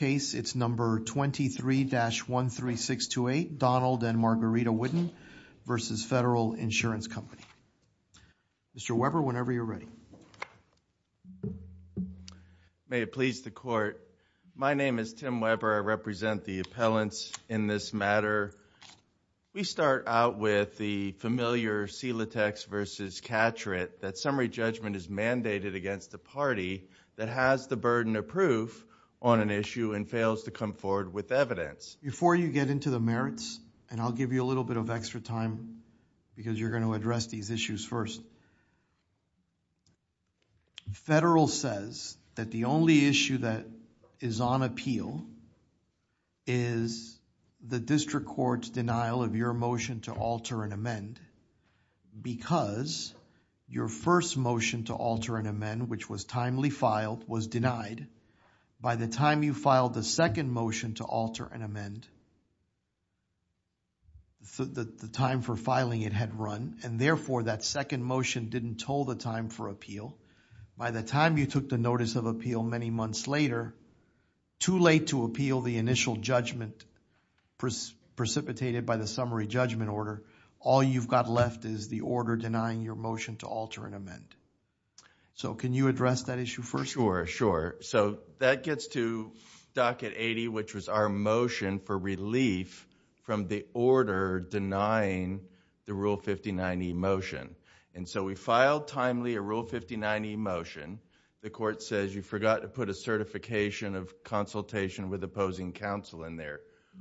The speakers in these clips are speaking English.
23-13628, Donald and Margarita Whidden v. Federal Insurance Company Mr. Weber, whenever you're ready. May it please the Court. My name is Tim Weber. I represent the appellants in this matter. We start out with the familiar Celotex v. Catret that summary judgment is mandated against a party that has the burden of proof on an issue and fails to come forward with evidence. Before you get into the merits, and I'll give you a little bit of extra time because you're going to address these issues first, Federal says that the only issue that is on appeal is the District Court's denial of your motion to alter and amend because your first motion to alter and amend, which was timely filed, was denied. By the time you filed the second motion to alter and amend, the time for filing it had run, and therefore that second motion didn't toll the time for appeal. By the time you took the notice of appeal many months later, too late to appeal the initial judgment precipitated by the summary judgment order, all you've got left is the order denying your motion to alter and amend. Can you address that issue first? Sure. That gets to Docket 80, which was our motion for relief from the order denying the Rule 59e motion. We filed timely a Rule 59e motion. The Court says you forgot to put a certification of consultation with opposing counsel in there.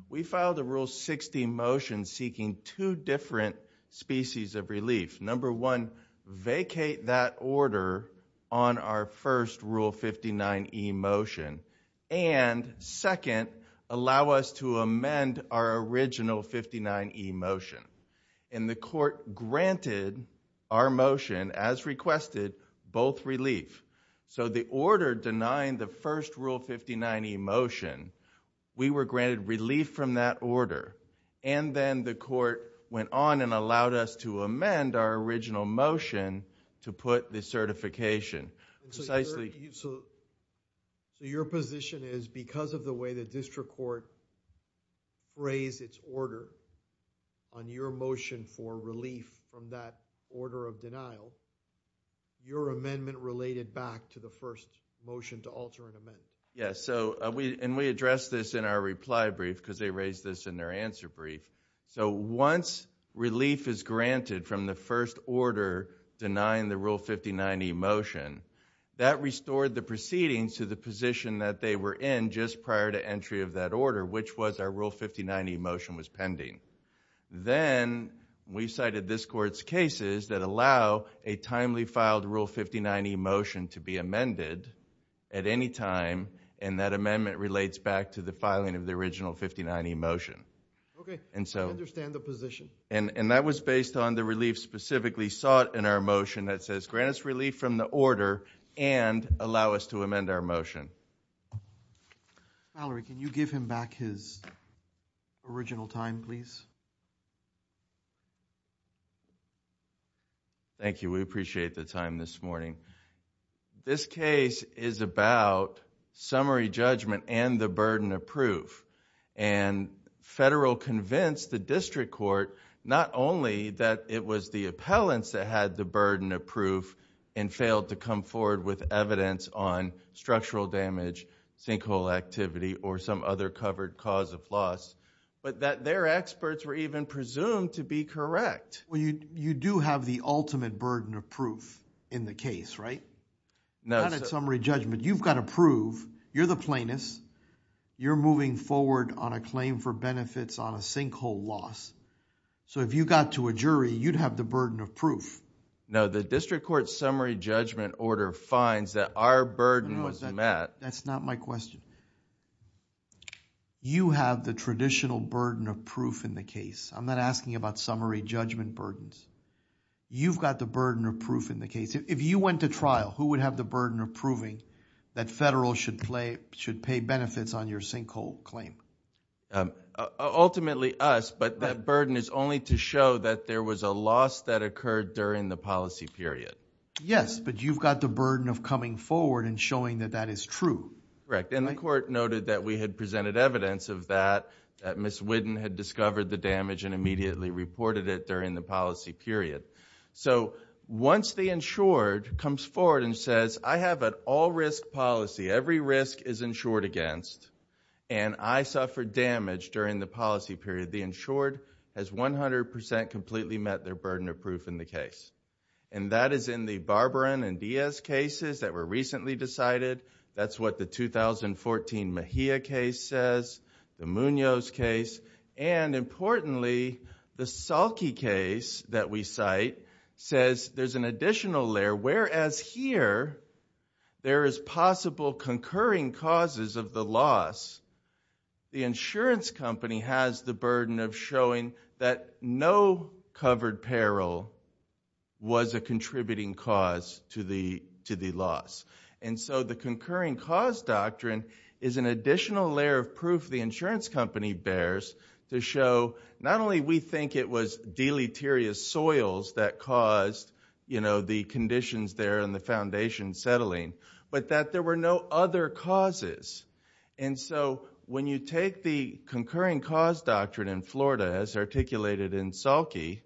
We filed a Rule 60 motion seeking two different species of relief. Number one, vacate that order on our first Rule 59e motion, and second, allow us to amend our original 59e motion. The Court granted our motion, as requested, both relief. The order denying the first Rule 59e motion, we were granted relief from that order, and then the Court went on and allowed us to amend our original motion to put the certification. Precisely... Your position is because of the way the district court raised its order on your motion for relief from that order of denial, your amendment related back to the first motion to alter and amend. Yes. We addressed this in our reply brief because they raised this in their answer brief. Once relief is granted from the first order denying the Rule 59e motion, that restored the proceedings to the position that they were in just prior to entry of that order, which was our Rule 59e motion was pending. Then, we cited this Court's cases that allow a timely filed Rule 59e motion to be amended at any time, and that amendment relates back to the filing of the original 59e motion. Okay. I understand the position. That was based on the relief specifically sought in our motion that says, grant us relief from the order and allow us to amend our motion. Mallory, can you give him back his original time, please? Thank you. We appreciate the time this morning. This case is about summary judgment and the burden of proof. Federal convinced the district court not only that it was the appellants that had the burden of proof and failed to come forward with evidence on structural damage, sinkhole activity, or some other covered cause of loss, but that their experts were even presumed to be correct. You do have the ultimate burden of proof in the case, right? Not at summary judgment. You've got to prove. You're the plaintiffs. You're moving forward on a claim for benefits on a sinkhole loss. If you got to a jury, you'd have the burden of proof. No, the district court summary judgment order finds that our burden was met. That's not my question. You have the traditional burden of proof in the case. I'm not asking about summary judgment burdens. You've got the burden of proof in the case. If you went to trial, who would have the burden of proving that federal should pay benefits on your sinkhole claim? Ultimately, us, but that burden is only to show that there was a loss that occurred during the policy period. Yes, but you've got the burden of coming forward and showing that that is true. Correct, and the court noted that we had presented evidence of that, that Ms. Whitten had discovered the damage and immediately reported it during the policy period. Once the insured comes forward and says, I have an all-risk policy, every risk is insured against, and I suffered damage during the policy period, the insured has 100% completely met their burden of proof in the case. That is in the Barbarin and Diaz cases that were recently decided. That's what the 2014 Mejia case says, the Munoz case, and importantly, the Salke case that we cite says there's an additional layer, whereas here, there is possible concurring causes of the loss. The insurance company has the burden of showing that no covered peril was a contributing cause to the loss. The concurring cause doctrine is an additional layer of proof the insurance company bears to show not only we think it was deleterious soils that caused the conditions there and the foundation settling, but that there were no other causes. When you take the concurring cause doctrine in Florida as articulated in Salke,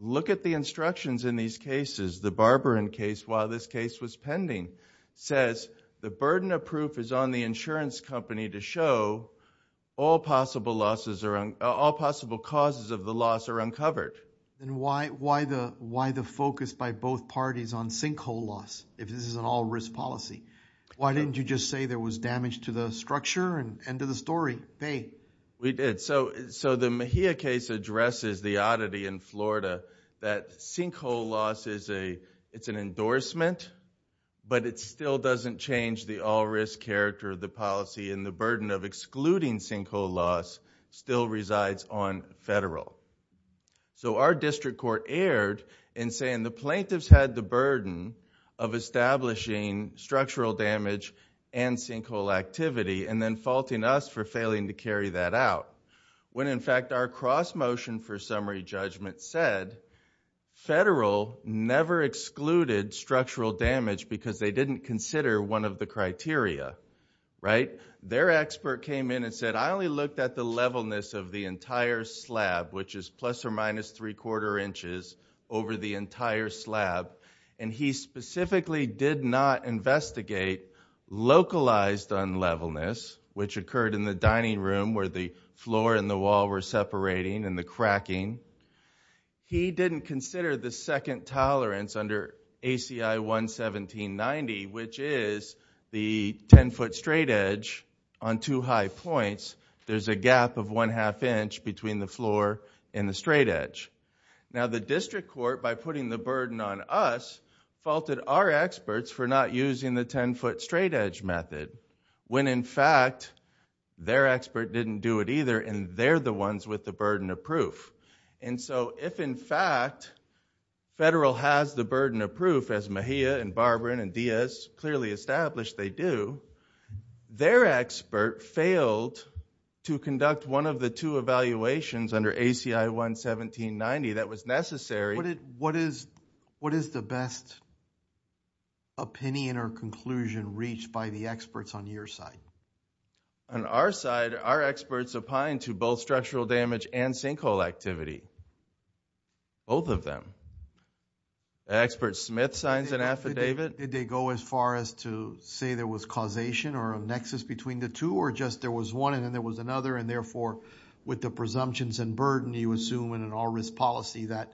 look at the instructions in these cases. The Barbarin case, while this case was pending, says the burden of proof is on the insurance company to show all possible causes of the loss are uncovered. Why the focus by both parties on sinkhole loss if this is an all-risk policy? Why didn't you just say there was damage to the structure and to the story? We did. The Mejia case addresses the oddity in Florida that sinkhole loss is an endorsement, but it still doesn't change the all-risk character of the policy and the burden of excluding sinkhole loss still resides on federal. Our district court erred in saying the plaintiffs had the burden of establishing structural damage and sinkhole activity and then faulting us for failing to carry that out when, in fact, our cross-motion for summary judgment said federal never excluded structural damage because they didn't consider one of the criteria. Their expert came in and said, I only looked at the levelness of the entire slab, which is plus or minus three-quarter inches over the entire slab, and he specifically did not investigate localized unlevelness, which occurred in the dining room where the floor and the wall were separating and the cracking. He didn't consider the second tolerance under ACI 11790, which is the ten-foot straightedge on two high points. There's a gap of one-half inch between the floor and the straightedge. Now, the district court, by putting the burden on us, faulted our experts for not using the ten-foot straightedge method when, in fact, their expert didn't do it either and they're the ones with the burden of proof. If, in fact, federal has the burden of proof, as Mejia and Barbarin and Diaz clearly established they do, their expert failed to conduct one of the two evaluations under ACI 11790 that was necessary. What is the best opinion or conclusion reached by the experts on your side? On our side, our experts opine to both structural damage and sinkhole activity. Both of them. Expert Smith signs an affidavit. Did they go as far as to say there was causation or a nexus between the two, or just there was one and then there was another, and therefore, with the presumptions and burden, you assume in an all-risk policy that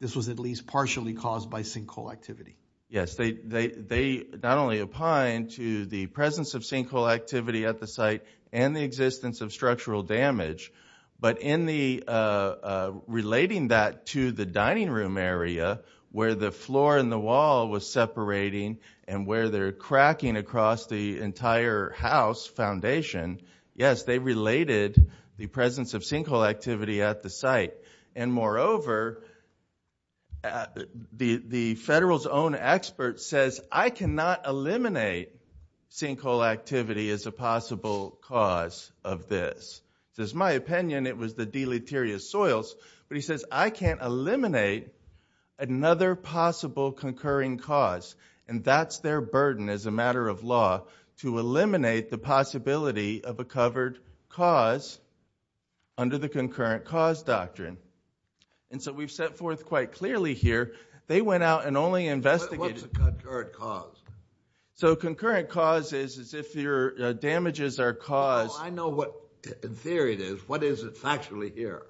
this was at least partially caused by sinkhole activity? Yes. They not only opine to the presence of sinkhole activity at the site and the existence of structural damage, but in relating that to the dining room area where the floor and the wall was separating and where they're cracking across the entire house foundation, yes, they related the presence of sinkhole activity at the site. And moreover, the federal's own expert says, I cannot eliminate sinkhole activity as a possible cause of this. This is my opinion. It was the deleterious soils. But he says, I can't eliminate another possible concurring cause. And that's their burden as a matter of law, to eliminate the possibility of a covered cause under the concurrent cause doctrine. And so we've set forth quite clearly here. They went out and only investigated. What's a concurrent cause? So concurrent cause is if your damages are caused. I know what in theory it is. What is it factually here?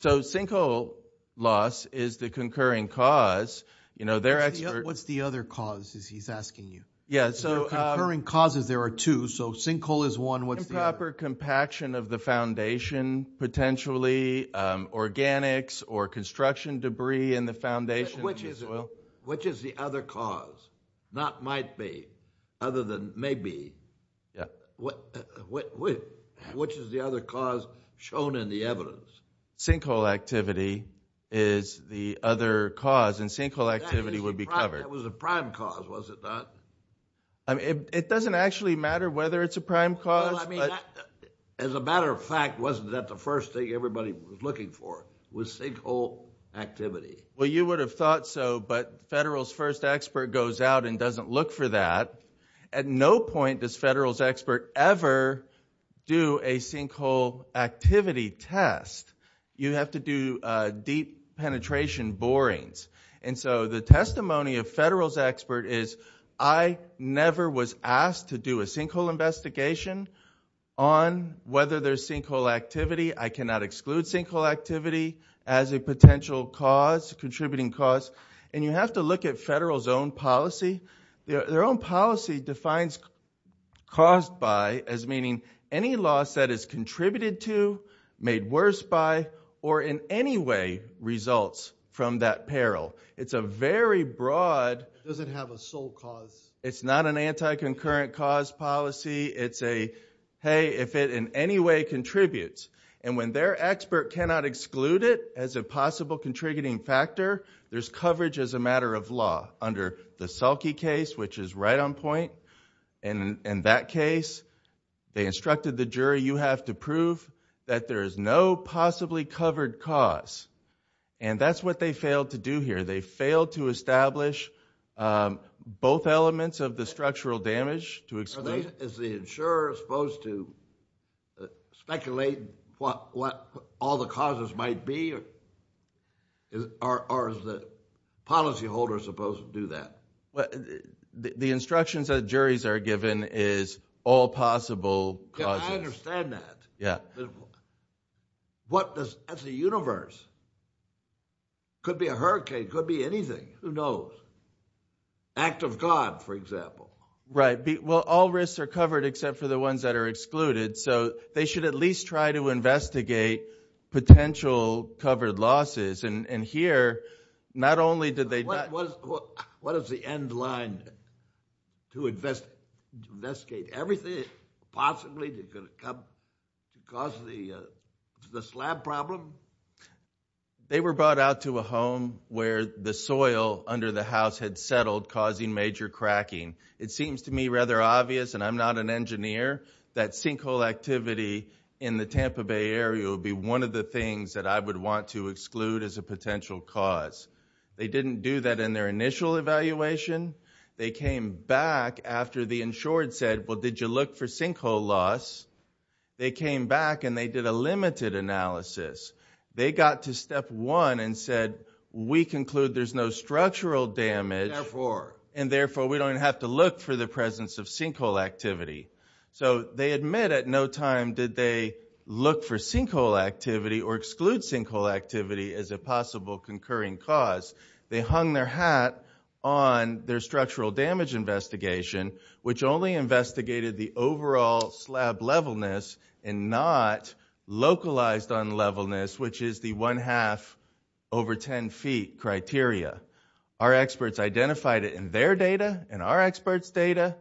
So sinkhole loss is the concurring cause. What's the other cause, he's asking you? Yes, so. Concurring causes, there are two. So sinkhole is one. What's the other? Improper compaction of the foundation, potentially organics or construction debris in the foundation. Which is the other cause? Not might be, other than maybe. Yeah. Which is the other cause shown in the evidence? Sinkhole activity is the other cause. And sinkhole activity would be covered. It was a prime cause, was it not? It doesn't actually matter whether it's a prime cause. As a matter of fact, wasn't that the first thing everybody was looking for, was sinkhole activity? Well, you would have thought so, but Federal's first expert goes out and doesn't look for that. At no point does Federal's expert ever do a sinkhole activity test. You have to do deep penetration borings. And so the testimony of Federal's expert is, I never was asked to do a sinkhole investigation on whether there's sinkhole activity. I cannot exclude sinkhole activity as a potential cause, contributing cause. And you have to look at Federal's own policy. Their own policy defines caused by as meaning any loss that is contributed to, made worse by, or in any way results from that peril. It's a very broad... It doesn't have a sole cause. It's not an anti-concurrent cause policy. It's a, hey, if it in any way contributes. And when their expert cannot exclude it as a possible contributing factor, there's coverage as a matter of law. Under the Selke case, which is right on point, in that case they instructed the jury, you have to prove that there is no possibly covered cause. And that's what they failed to do here. They failed to establish both elements of the structural damage to exclude. Is the insurer supposed to speculate what all the causes might be? Or is the policyholder supposed to do that? The instructions that juries are given is all possible causes. I understand that. What does, as a universe, could be a hurricane, could be anything. Who knows? Act of God, for example. Right. Well, all risks are covered except for the ones that are excluded. So they should at least try to investigate potential covered losses. And here, not only did they... What is the end line to investigate? Everything possibly that could cause the slab problem? They were brought out to a home where the soil under the house had settled, causing major cracking. It seems to me rather obvious, and I'm not an engineer, that sinkhole activity in the Tampa Bay area would be one of the things that I would want to exclude as a potential cause. They didn't do that in their initial evaluation. They came back after the insured said, well, did you look for sinkhole loss? They came back and they did a limited analysis. They got to step one and said, we conclude there's no structural damage, and therefore we don't have to look for the presence of sinkhole activity. So they admit at no time did they look for sinkhole activity or exclude sinkhole activity as a possible concurring cause. They hung their hat on their structural damage investigation, which only investigated the overall slab levelness and not localized unlevelness, which is the one half over ten feet criteria. Our experts identified it in their data and our experts' data.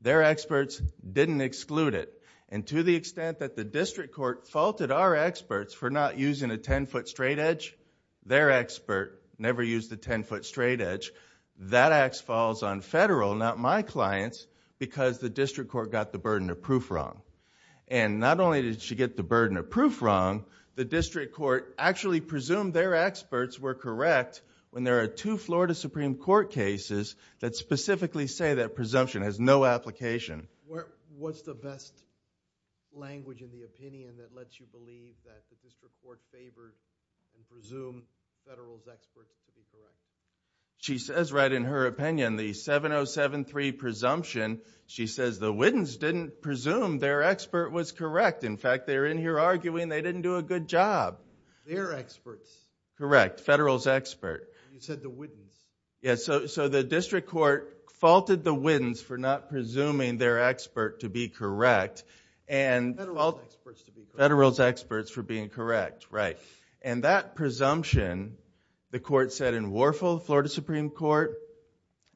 Their experts didn't exclude it. To the extent that the district court faulted our experts for not using a ten-foot straightedge, their expert never used a ten-foot straightedge. That ax falls on federal, not my clients, because the district court got the burden of proof wrong. Not only did she get the burden of proof wrong, the district court actually presumed their experts were correct when there are two Florida Supreme Court cases that specifically say that presumption has no application. What's the best language in the opinion that lets you believe that the district court favors and presumes federal's experts to be correct? She says right in her opinion, the 7073 presumption, she says the widens didn't presume their expert was correct. In fact, they're in here arguing they didn't do a good job. Their experts. Correct, federal's expert. You said the widens. Yes, so the district court faulted the widens for not presuming their expert to be correct. Federal's experts to be correct. Federal's experts for being correct, right. And that presumption, the court said in Warfel, Florida Supreme Court,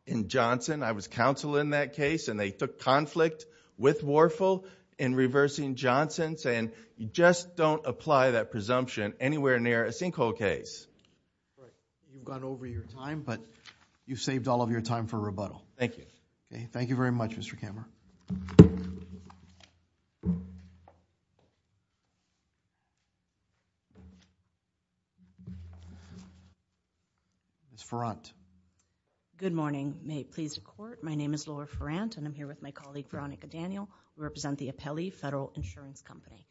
in Johnson, I was counsel in that case, and they took conflict with Warfel in reversing Johnson, saying you just don't apply that presumption anywhere near a sinkhole case. You've gone over your time, but you've saved all of your time for rebuttal. Thank you. Thank you very much, Mr. Kammerer. Good morning. May it please the court, my name is Laura Ferrant, and I'm here with my colleague Veronica Daniel, who represent the Apelli Federal Insurance Company.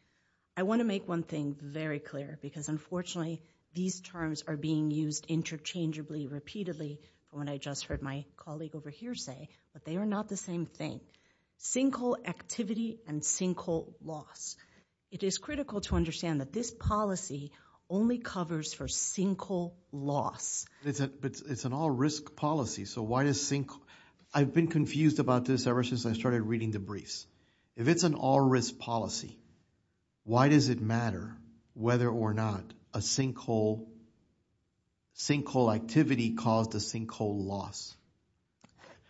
I want to make one thing very clear, because unfortunately these terms are being used interchangeably, repeatedly. When I just heard my colleague over here say, but they are not the same thing. Sinkhole activity and sinkhole loss. It is critical to understand that this policy only covers for sinkhole loss. It's an all-risk policy, so why does sinkhole... I've been confused about this ever since I started reading the briefs. If it's an all-risk policy, why does it matter whether or not a sinkhole activity caused a sinkhole loss?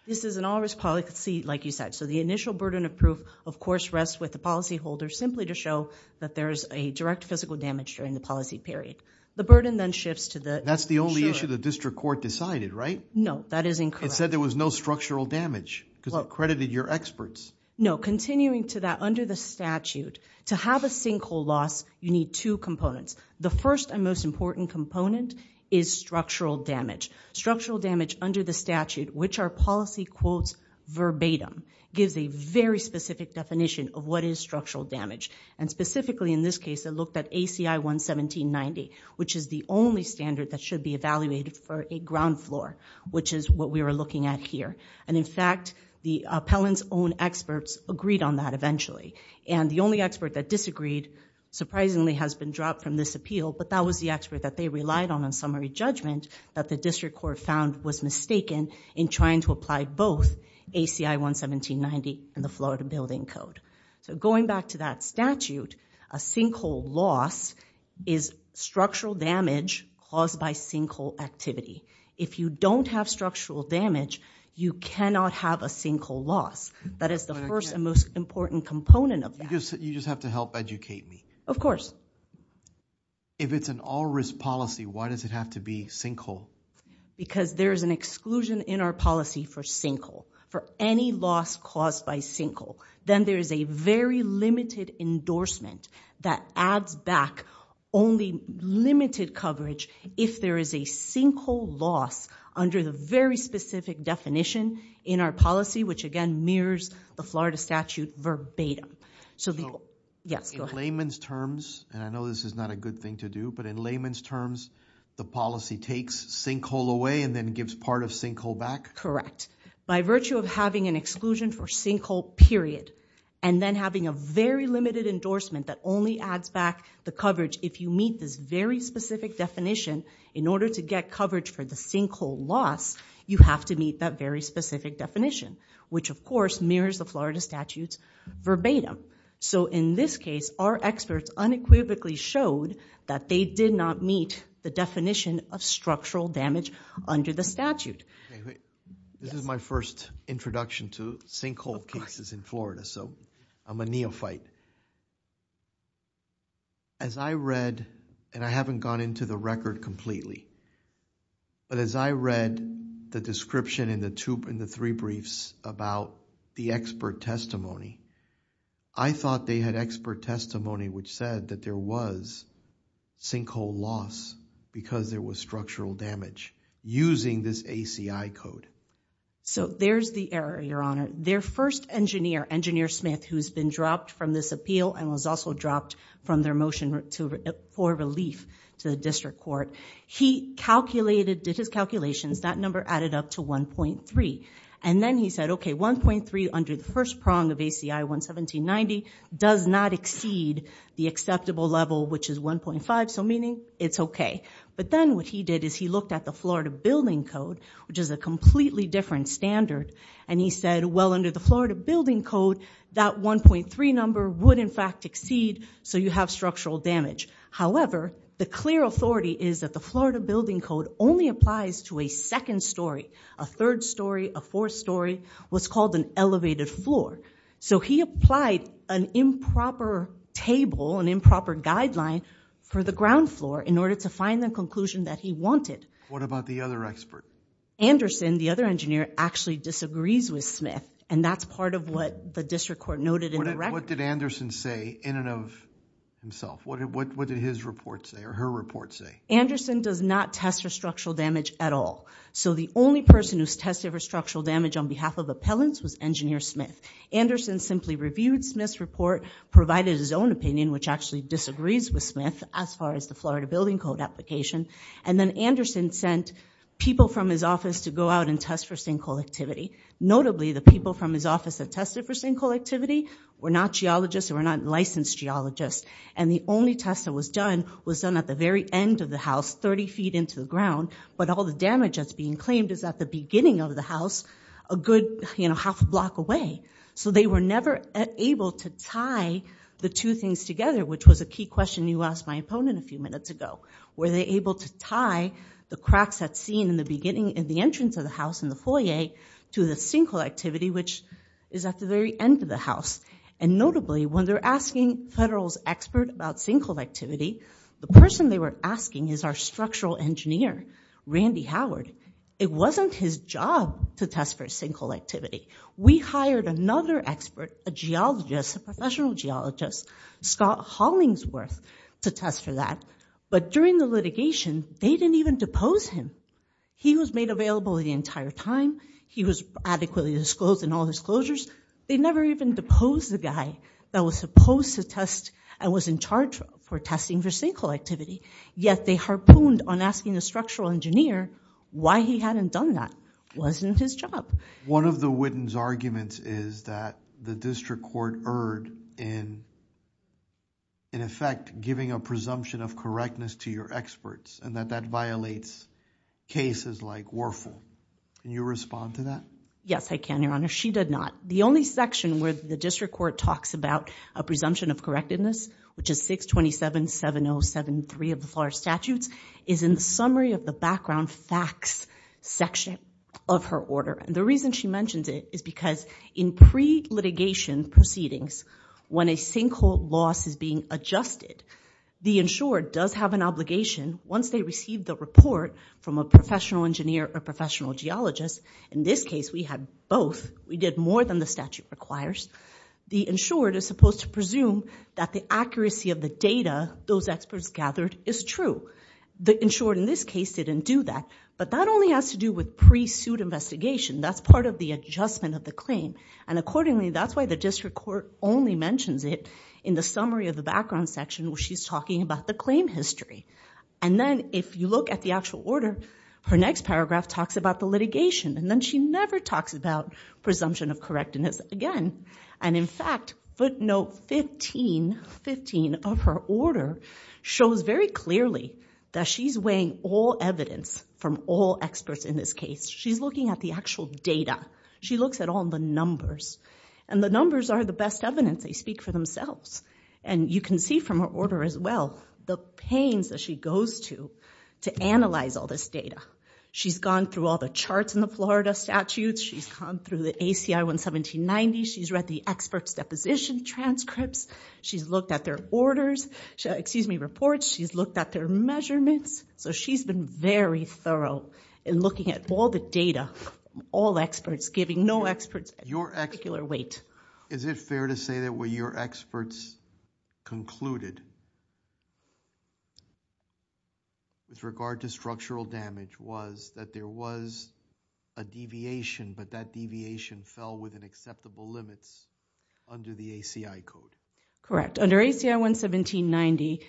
This is an all-risk policy, like you said. So the initial burden of proof, of course, rests with the policyholder, simply to show that there is a direct physical damage during the policy period. The burden then shifts to the insurer. That's the only issue the district court decided, right? No, that is incorrect. It said there was no structural damage, because it credited your experts. No, continuing to that, under the statute, to have a sinkhole loss, you need two components. The first and most important component is structural damage. Structural damage under the statute, which our policy quotes verbatim, gives a very specific definition of what is structural damage. And specifically in this case, it looked at ACI 11790, which is the only standard that should be evaluated for a ground floor, which is what we are looking at here. And in fact, the appellant's own experts agreed on that eventually. And the only expert that disagreed, surprisingly, has been dropped from this appeal, but that was the expert that they relied on on summary judgment that the district court found was mistaken in trying to apply both ACI 11790 and the Florida Building Code. So going back to that statute, a sinkhole loss is structural damage caused by sinkhole activity. If you don't have structural damage, you cannot have a sinkhole loss. That is the first and most important component of that. You just have to help educate me. Of course. If it's an all-risk policy, why does it have to be sinkhole? Because there is an exclusion in our policy for sinkhole, for any loss caused by sinkhole. Then there is a very limited endorsement that adds back only limited coverage if there is a sinkhole loss under the very specific definition in our policy, which again mirrors the Florida statute verbatim. Yes, go ahead. In layman's terms, and I know this is not a good thing to do, but in layman's terms, the policy takes sinkhole away and then gives part of sinkhole back? Correct. By virtue of having an exclusion for sinkhole, period, and then having a very limited endorsement that only adds back the coverage if you meet this very specific definition in order to get coverage for the sinkhole loss, you have to meet that very specific definition. Which, of course, mirrors the Florida statute's verbatim. In this case, our experts unequivocally showed that they did not meet the definition of structural damage under the statute. This is my first introduction to sinkhole cases in Florida, so I'm a neophyte. As I read, and I haven't gone into the record completely, but as I read the description in the three briefs about the expert testimony, I thought they had expert testimony which said that there was sinkhole loss because there was structural damage using this ACI code. There's the error, Your Honor. Their first engineer, Engineer Smith, who's been dropped from this appeal and was also dropped from their motion for relief to the district court, he did his calculations. That number added up to 1.3. And then he said, okay, 1.3 under the first prong of ACI 11790 does not exceed the acceptable level, which is 1.5, so meaning it's okay. But then what he did is he looked at the Florida Building Code, which is a completely different standard, and he said, well, under the Florida Building Code, that 1.3 number would in fact exceed so you have structural damage. However, the clear authority is that the Florida Building Code only applies to a second story, a third story, a fourth story, what's called an elevated floor. So he applied an improper table, an improper guideline for the ground floor in order to find the conclusion that he wanted. What about the other expert? Anderson, the other engineer, actually disagrees with Smith, and that's part of what the district court noted in the record. What did Anderson say in and of himself? What did his report say or her report say? Anderson does not test for structural damage at all. So the only person who's tested for structural damage on behalf of appellants was Engineer Smith. Anderson simply reviewed Smith's report, provided his own opinion, which actually disagrees with Smith as far as the Florida Building Code application, and then Anderson sent people from his office to go out and test for sinkhole activity. Notably, the people from his office that tested for sinkhole activity were not geologists, they were not licensed geologists, and the only test that was done was done at the very end of the house, 30 feet into the ground, but all the damage that's being claimed is at the beginning of the house, a good half a block away. So they were never able to tie the two things together, which was a key question you asked my opponent a few minutes ago. Were they able to tie the cracks that's seen in the beginning, in the entrance of the house, in the foyer, to the sinkhole activity, which is at the very end of the house? And notably, when they're asking a federal expert about sinkhole activity, the person they were asking is our structural engineer, Randy Howard. It wasn't his job to test for sinkhole activity. We hired another expert, a geologist, a professional geologist, Scott Hollingsworth, to test for that, but during the litigation, they didn't even depose him. He was made available the entire time. He was adequately disclosed in all disclosures. They never even deposed the guy that was supposed to test and was in charge for testing for sinkhole activity, yet they harpooned on asking the structural engineer why he hadn't done that. It wasn't his job. One of the witness' arguments is that the district court erred in, in effect, giving a presumption of correctness to your experts and that that violates cases like Werfel. Can you respond to that? Yes, I can, Your Honor. She did not. The only section where the district court talks about a presumption of correctness, which is 627-7073 of the FLARS statutes, is in the summary of the background facts section of her order. The reason she mentions it is because in pre-litigation proceedings, when a sinkhole loss is being adjusted, the insurer does have an obligation, once they receive the report from a professional engineer or professional geologist, in this case, we had both. We did more than the statute requires. The insured is supposed to presume that the accuracy of the data those experts gathered is true. The insured in this case didn't do that, but that only has to do with pre-suit investigation. That's part of the adjustment of the claim. And accordingly, that's why the district court only mentions it in the summary of the background section where she's talking about the claim history. And then, if you look at the actual order, her next paragraph talks about the litigation, and then she never talks about presumption of correctness again. And in fact, footnote 15 of her order shows very clearly that she's weighing all evidence from all experts in this case. She's looking at the actual data. She looks at all the numbers. And the numbers are the best evidence. They speak for themselves. And you can see from her order as well the pains that she goes to to analyze all this data. She's gone through all the charts in the Florida statutes. She's gone through the ACI 11790. She's read the experts' deposition transcripts. She's looked at their orders, excuse me, reports. She's looked at their measurements. So she's been very thorough in looking at all the data, all experts, giving no experts a particular weight. Is it fair to say that what your experts concluded with regard to structural damage was that there was a deviation, but that deviation fell within acceptable limits under the ACI code? Correct. Under ACI 11790,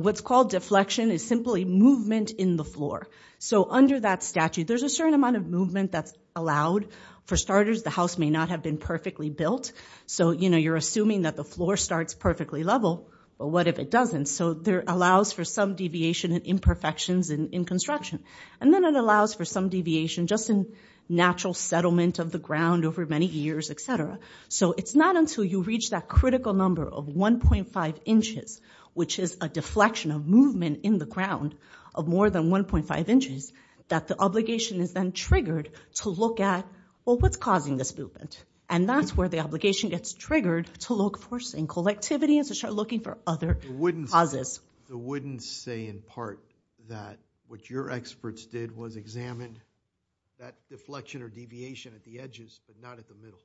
what's called deflection is simply movement in the floor. So under that statute, there's a certain amount of movement that's allowed. For starters, the house may not have been perfectly built. So you're assuming that the floor starts perfectly level, but what if it doesn't? So there allows for some deviation and imperfections in construction. And then it allows for some deviation just in natural settlement of the ground over many years, et cetera. So it's not until you reach that critical number of 1.5 inches, which is a deflection of movement in the ground of more than 1.5 inches, that the obligation is then triggered to look at, well, what's causing this movement? And that's where the obligation gets triggered to look for some collectivity and to start looking for other causes. It wouldn't say, in part, that what your experts did was examine that deflection or deviation at the edges, but not at the middle.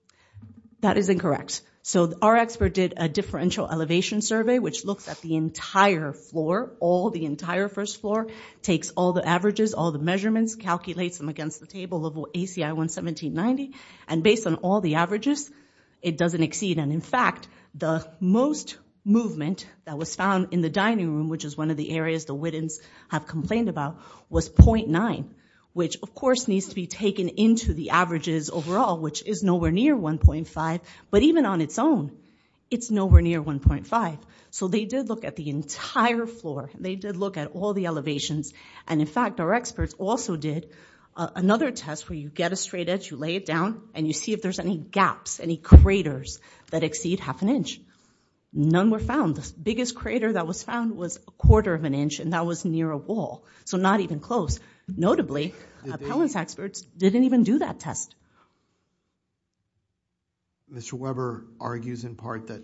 That is incorrect. So our expert did a differential elevation survey, which looks at the entire floor, all the entire first floor, takes all the averages, all the measurements, calculates them against the table of ACI 11790, and based on all the averages, it doesn't exceed. And in fact, the most movement that was found in the dining room, which is one of the areas the Whittens have complained about, was 0.9, which, of course, needs to be taken into the averages overall, which is nowhere near 1.5, but even on its own, it's nowhere near 1.5. So they did look at the entire floor. They did look at all the elevations. And in fact, our experts also did another test where you get a straight edge, you lay it down, and you see if there's any gaps, any craters that exceed half an inch. None were found. The biggest crater that was found was a quarter of an inch, and that was near a wall, so not even close. Notably, appellants' experts didn't even do that test. Mr. Weber argues in part that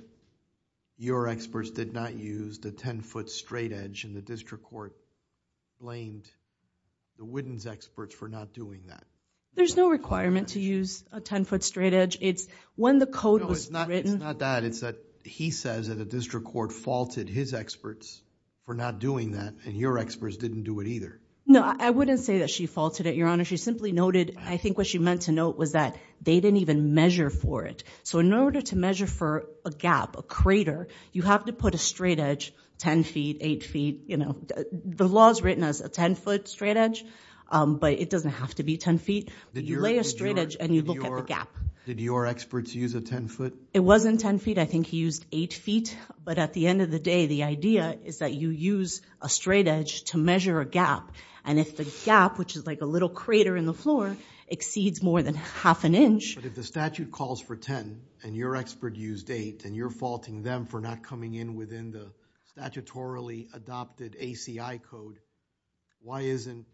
your experts did not use the 10-foot straight edge, and the district court blamed the Whittens' experts for not doing that. There's no requirement to use a 10-foot straight edge. It's when the code was written... No, it's not that. It's that he says that the district court faulted his experts for not doing that, and your experts didn't do it either. No, I wouldn't say that she faulted it, Your Honor. She simply noted, I think what she meant to note was that they didn't even measure for it. So in order to measure for a gap, a crater, you have to put a straight edge 10 feet, 8 feet. The law is written as a 10-foot straight edge, but it doesn't have to be 10 feet. You lay a straight edge, and you look at the gap. Did your experts use a 10-foot? It wasn't 10 feet. I think he used 8 feet, but at the end of the day, the idea is that you use a straight edge to measure a gap, and if the gap, which is like a little crater in the floor, exceeds more than half an inch... But if the statute calls for 10, and your expert used 8, and you're faulting them for not coming in within the statutorily adopted ACI code, why isn't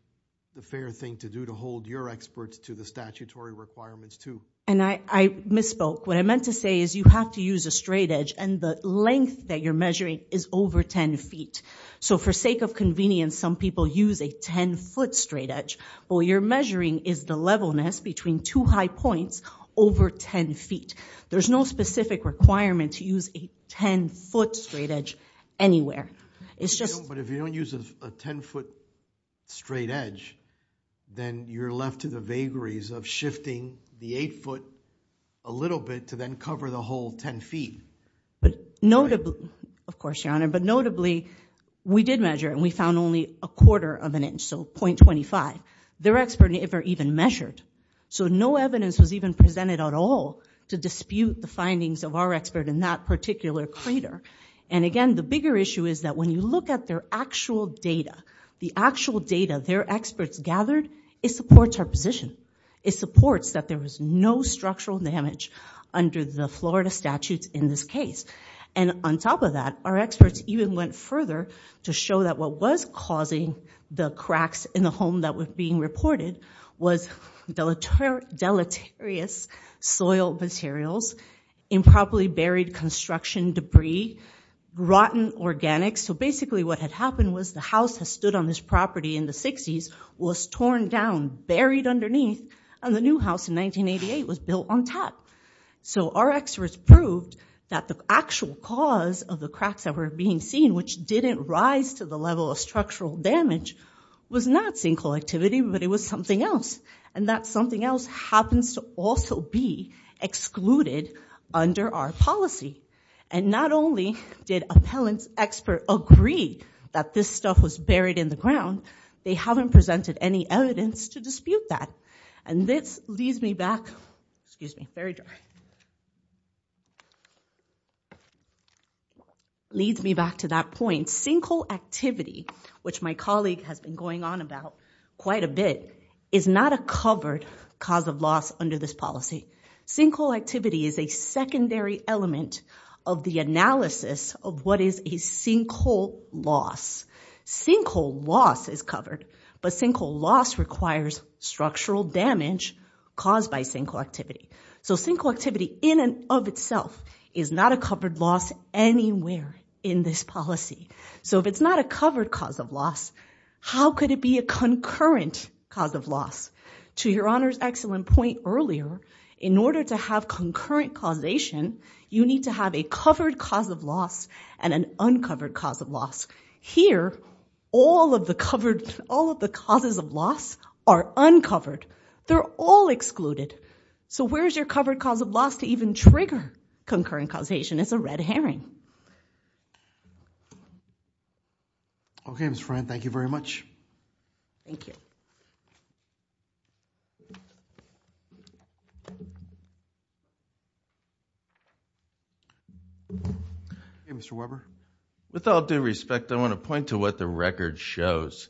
the fair thing to do to hold your experts to the statutory requirements, too? And I misspoke. What I meant to say is you have to use a straight edge, and the length that you're measuring is over 10 feet. So for sake of convenience, some people use a 10-foot straight edge, while you're measuring is the levelness between two high points over 10 feet. There's no specific requirement to use a 10-foot straight edge anywhere. It's just... But if you don't use a 10-foot straight edge, then you're left to the vagaries of shifting the 8-foot a little bit to then cover the whole 10 feet. Of course, Your Honor. But notably, we did measure, and we found only a quarter of an inch, so .25. Their expert never even measured. So no evidence was even presented at all to dispute the findings of our expert in that particular crater. And again, the bigger issue is that when you look at their actual data, the actual data their experts gathered, it supports our position. It supports that there was no structural damage under the Florida statutes in this case. And on top of that, our experts even went further to show that what was causing the cracks in the home that were being reported was deleterious soil materials, improperly buried construction debris, rotten organics. So basically what had happened was the house that stood on this property in the 60s was torn down, buried underneath, and the new house in 1988 was built on top. So our experts proved that the actual cause of the cracks that were being seen, which didn't rise to the level of structural damage, was not sinkhole activity, but it was something else. And that something else happens to also be excluded under our policy. And not only did a pellant expert agree that this stuff was buried in the ground, they haven't presented any evidence to dispute that. And this leads me back to that point. Sinkhole activity, which my colleague has been going on about quite a bit, is not a covered cause of loss under this policy. Sinkhole activity is a secondary element of the analysis of what is a sinkhole loss. Sinkhole loss is covered, but sinkhole loss requires structural damage caused by sinkhole activity. So sinkhole activity in and of itself is not a covered loss anywhere in this policy. So if it's not a covered cause of loss, how could it be a concurrent cause of loss? To Your Honor's excellent point earlier, in order to have concurrent causation, you need to have a covered cause of loss and an uncovered cause of loss. Here, all of the causes of loss are uncovered. They're all excluded. So where's your covered cause of loss to even trigger concurrent causation? It's a red herring. Okay, Ms. Friend, thank you very much. Thank you. Okay, Mr. Weber. With all due respect, I want to point to what the record shows.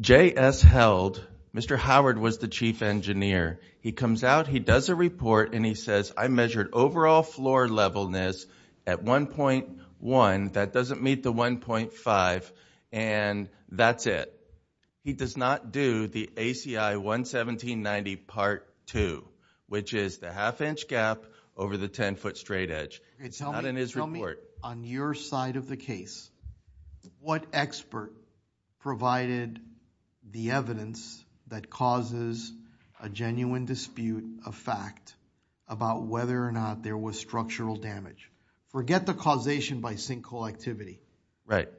J.S. Held, Mr. Howard, was the chief engineer. He comes out, he does a report, and he says, I measured overall floor levelness at 1.1. That doesn't meet the 1.5, and that's it. He does not do the ACI 11790 Part 2, which is the half-inch gap over the 10-foot straight edge. It's not in his report. Tell me, on your side of the case, what expert provided the evidence that causes a genuine dispute of fact about whether or not there was structural damage? Forget the causation by sinkhole activity.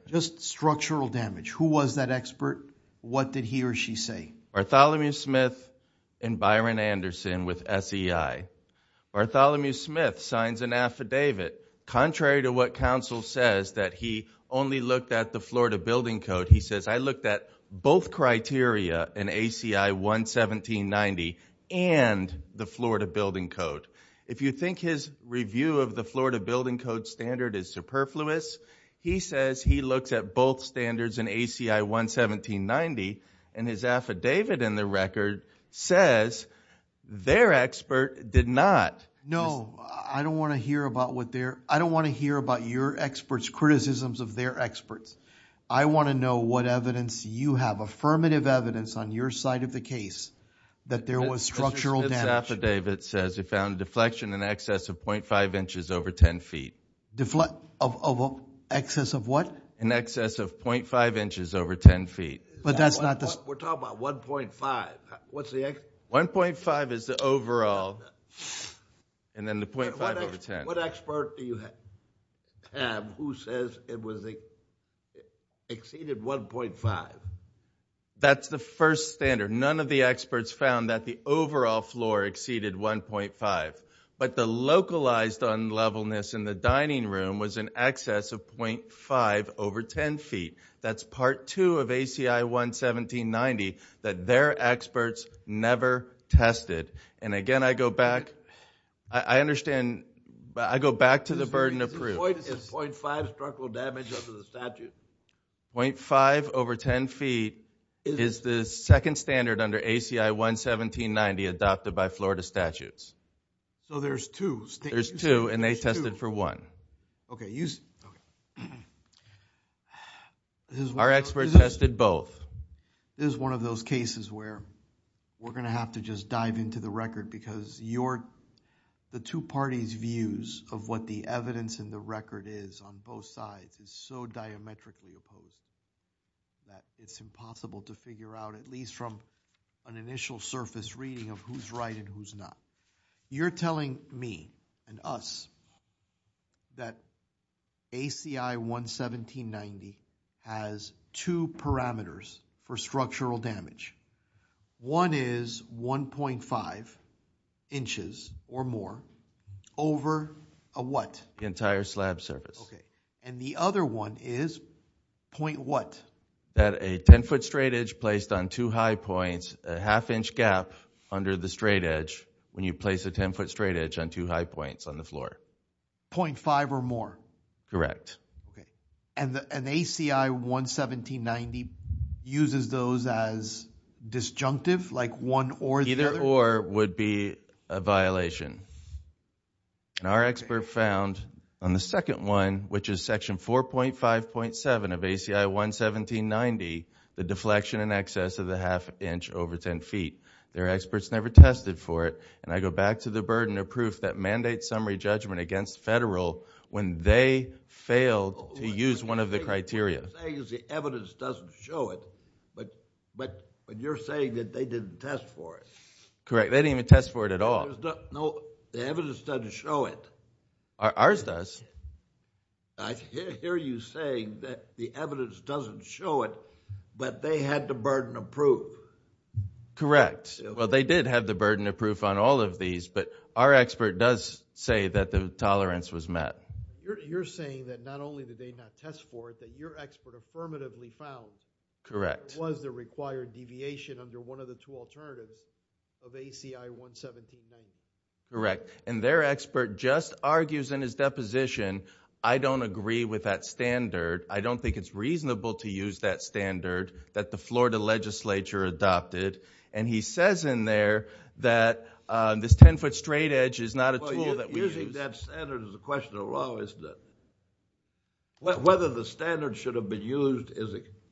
Just structural damage. Who was that expert? What did he or she say? Bartholomew Smith and Byron Anderson with SEI. Bartholomew Smith signs an affidavit, contrary to what counsel says, that he only looked at the Florida Building Code. He says, I looked at both criteria in ACI 11790 and the Florida Building Code. If you think his review of the Florida Building Code standard is superfluous, he says he looks at both standards in ACI 11790, and his affidavit in the record says their expert did not. No, I don't want to hear about what their... I don't want to hear about your expert's criticisms of their experts. I want to know what evidence you have, affirmative evidence on your side of the case, that there was structural damage. Mr. Smith's affidavit says he found deflection in excess of 0.5 inches over 10 feet. Deflection of excess of what? In excess of 0.5 inches over 10 feet. But that's not the... We're talking about 1.5. What's the... 1.5 is the overall, and then the .5 over 10. What expert do you have who says it exceeded 1.5? That's the first standard. None of the experts found that the overall floor exceeded 1.5, but the localized unlevelness in the dining room was in excess of .5 over 10 feet. That's part two of ACI 11790 that their experts never tested. And again, I go back... I understand, but I go back to the burden of proof. Is 0.5 structural damage under the statute? 0.5 over 10 feet is the second standard under ACI 11790 adopted by Florida statutes. So there's two. There's two, and they tested for one. Okay. Our experts tested both. This is one of those cases where we're going to have to just dive into the record because the two parties' views of what the evidence in the record is on both sides is so diametrically opposed that it's impossible to figure out, at least from an initial surface reading of who's right and who's not. You're telling me and us that ACI 11790 has two parameters for structural damage. One is 1.5 inches or more over a what? The entire slab surface. Okay. And the other one is point what? That a 10-foot straight edge placed on two high points, a half-inch gap under the straight edge when you place a 10-foot straight edge on two high points on the floor. 0.5 or more? Correct. And ACI 11790 uses those as disjunctive, like one or the other? Either or would be a violation. And our expert found on the second one, which is Section 4.5.7 of ACI 11790, the deflection in excess of the half-inch over 10 feet. Their experts never tested for it, and I go back to the burden of proof that mandates summary judgment against federal when they failed to use one of the criteria. What you're saying is the evidence doesn't show it, but you're saying that they didn't test for it. Correct. They didn't even test for it at all. No, the evidence doesn't show it. Ours does. I hear you saying that the evidence doesn't show it, but they had the burden of proof. Correct. Well, they did have the burden of proof on all of these, but our expert does say that the tolerance was met. You're saying that not only did they not test for it, that your expert affirmatively found it was the required deviation under one of the two alternatives of ACI 11790. Correct. Their expert just argues in his deposition, I don't agree with that standard, I don't think it's reasonable to use that standard that the Florida legislature adopted, and he says in there that this 10-foot straight edge is not a tool that we use. Using that standard is a question of law, isn't it? Whether the standard should have been used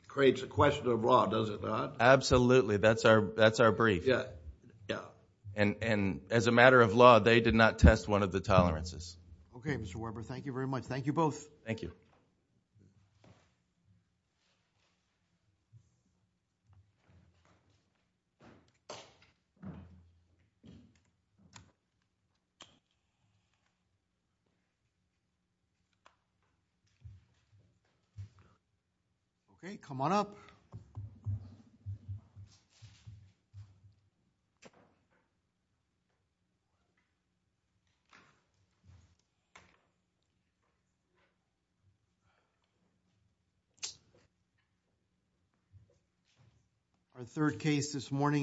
creates a question of law, does it not? Absolutely. That's our brief. And as a matter of law, they did not test one of the tolerances. Okay, Mr. Weber, thank you very much. Thank you both. Thank you. Okay, come on up. Thank you.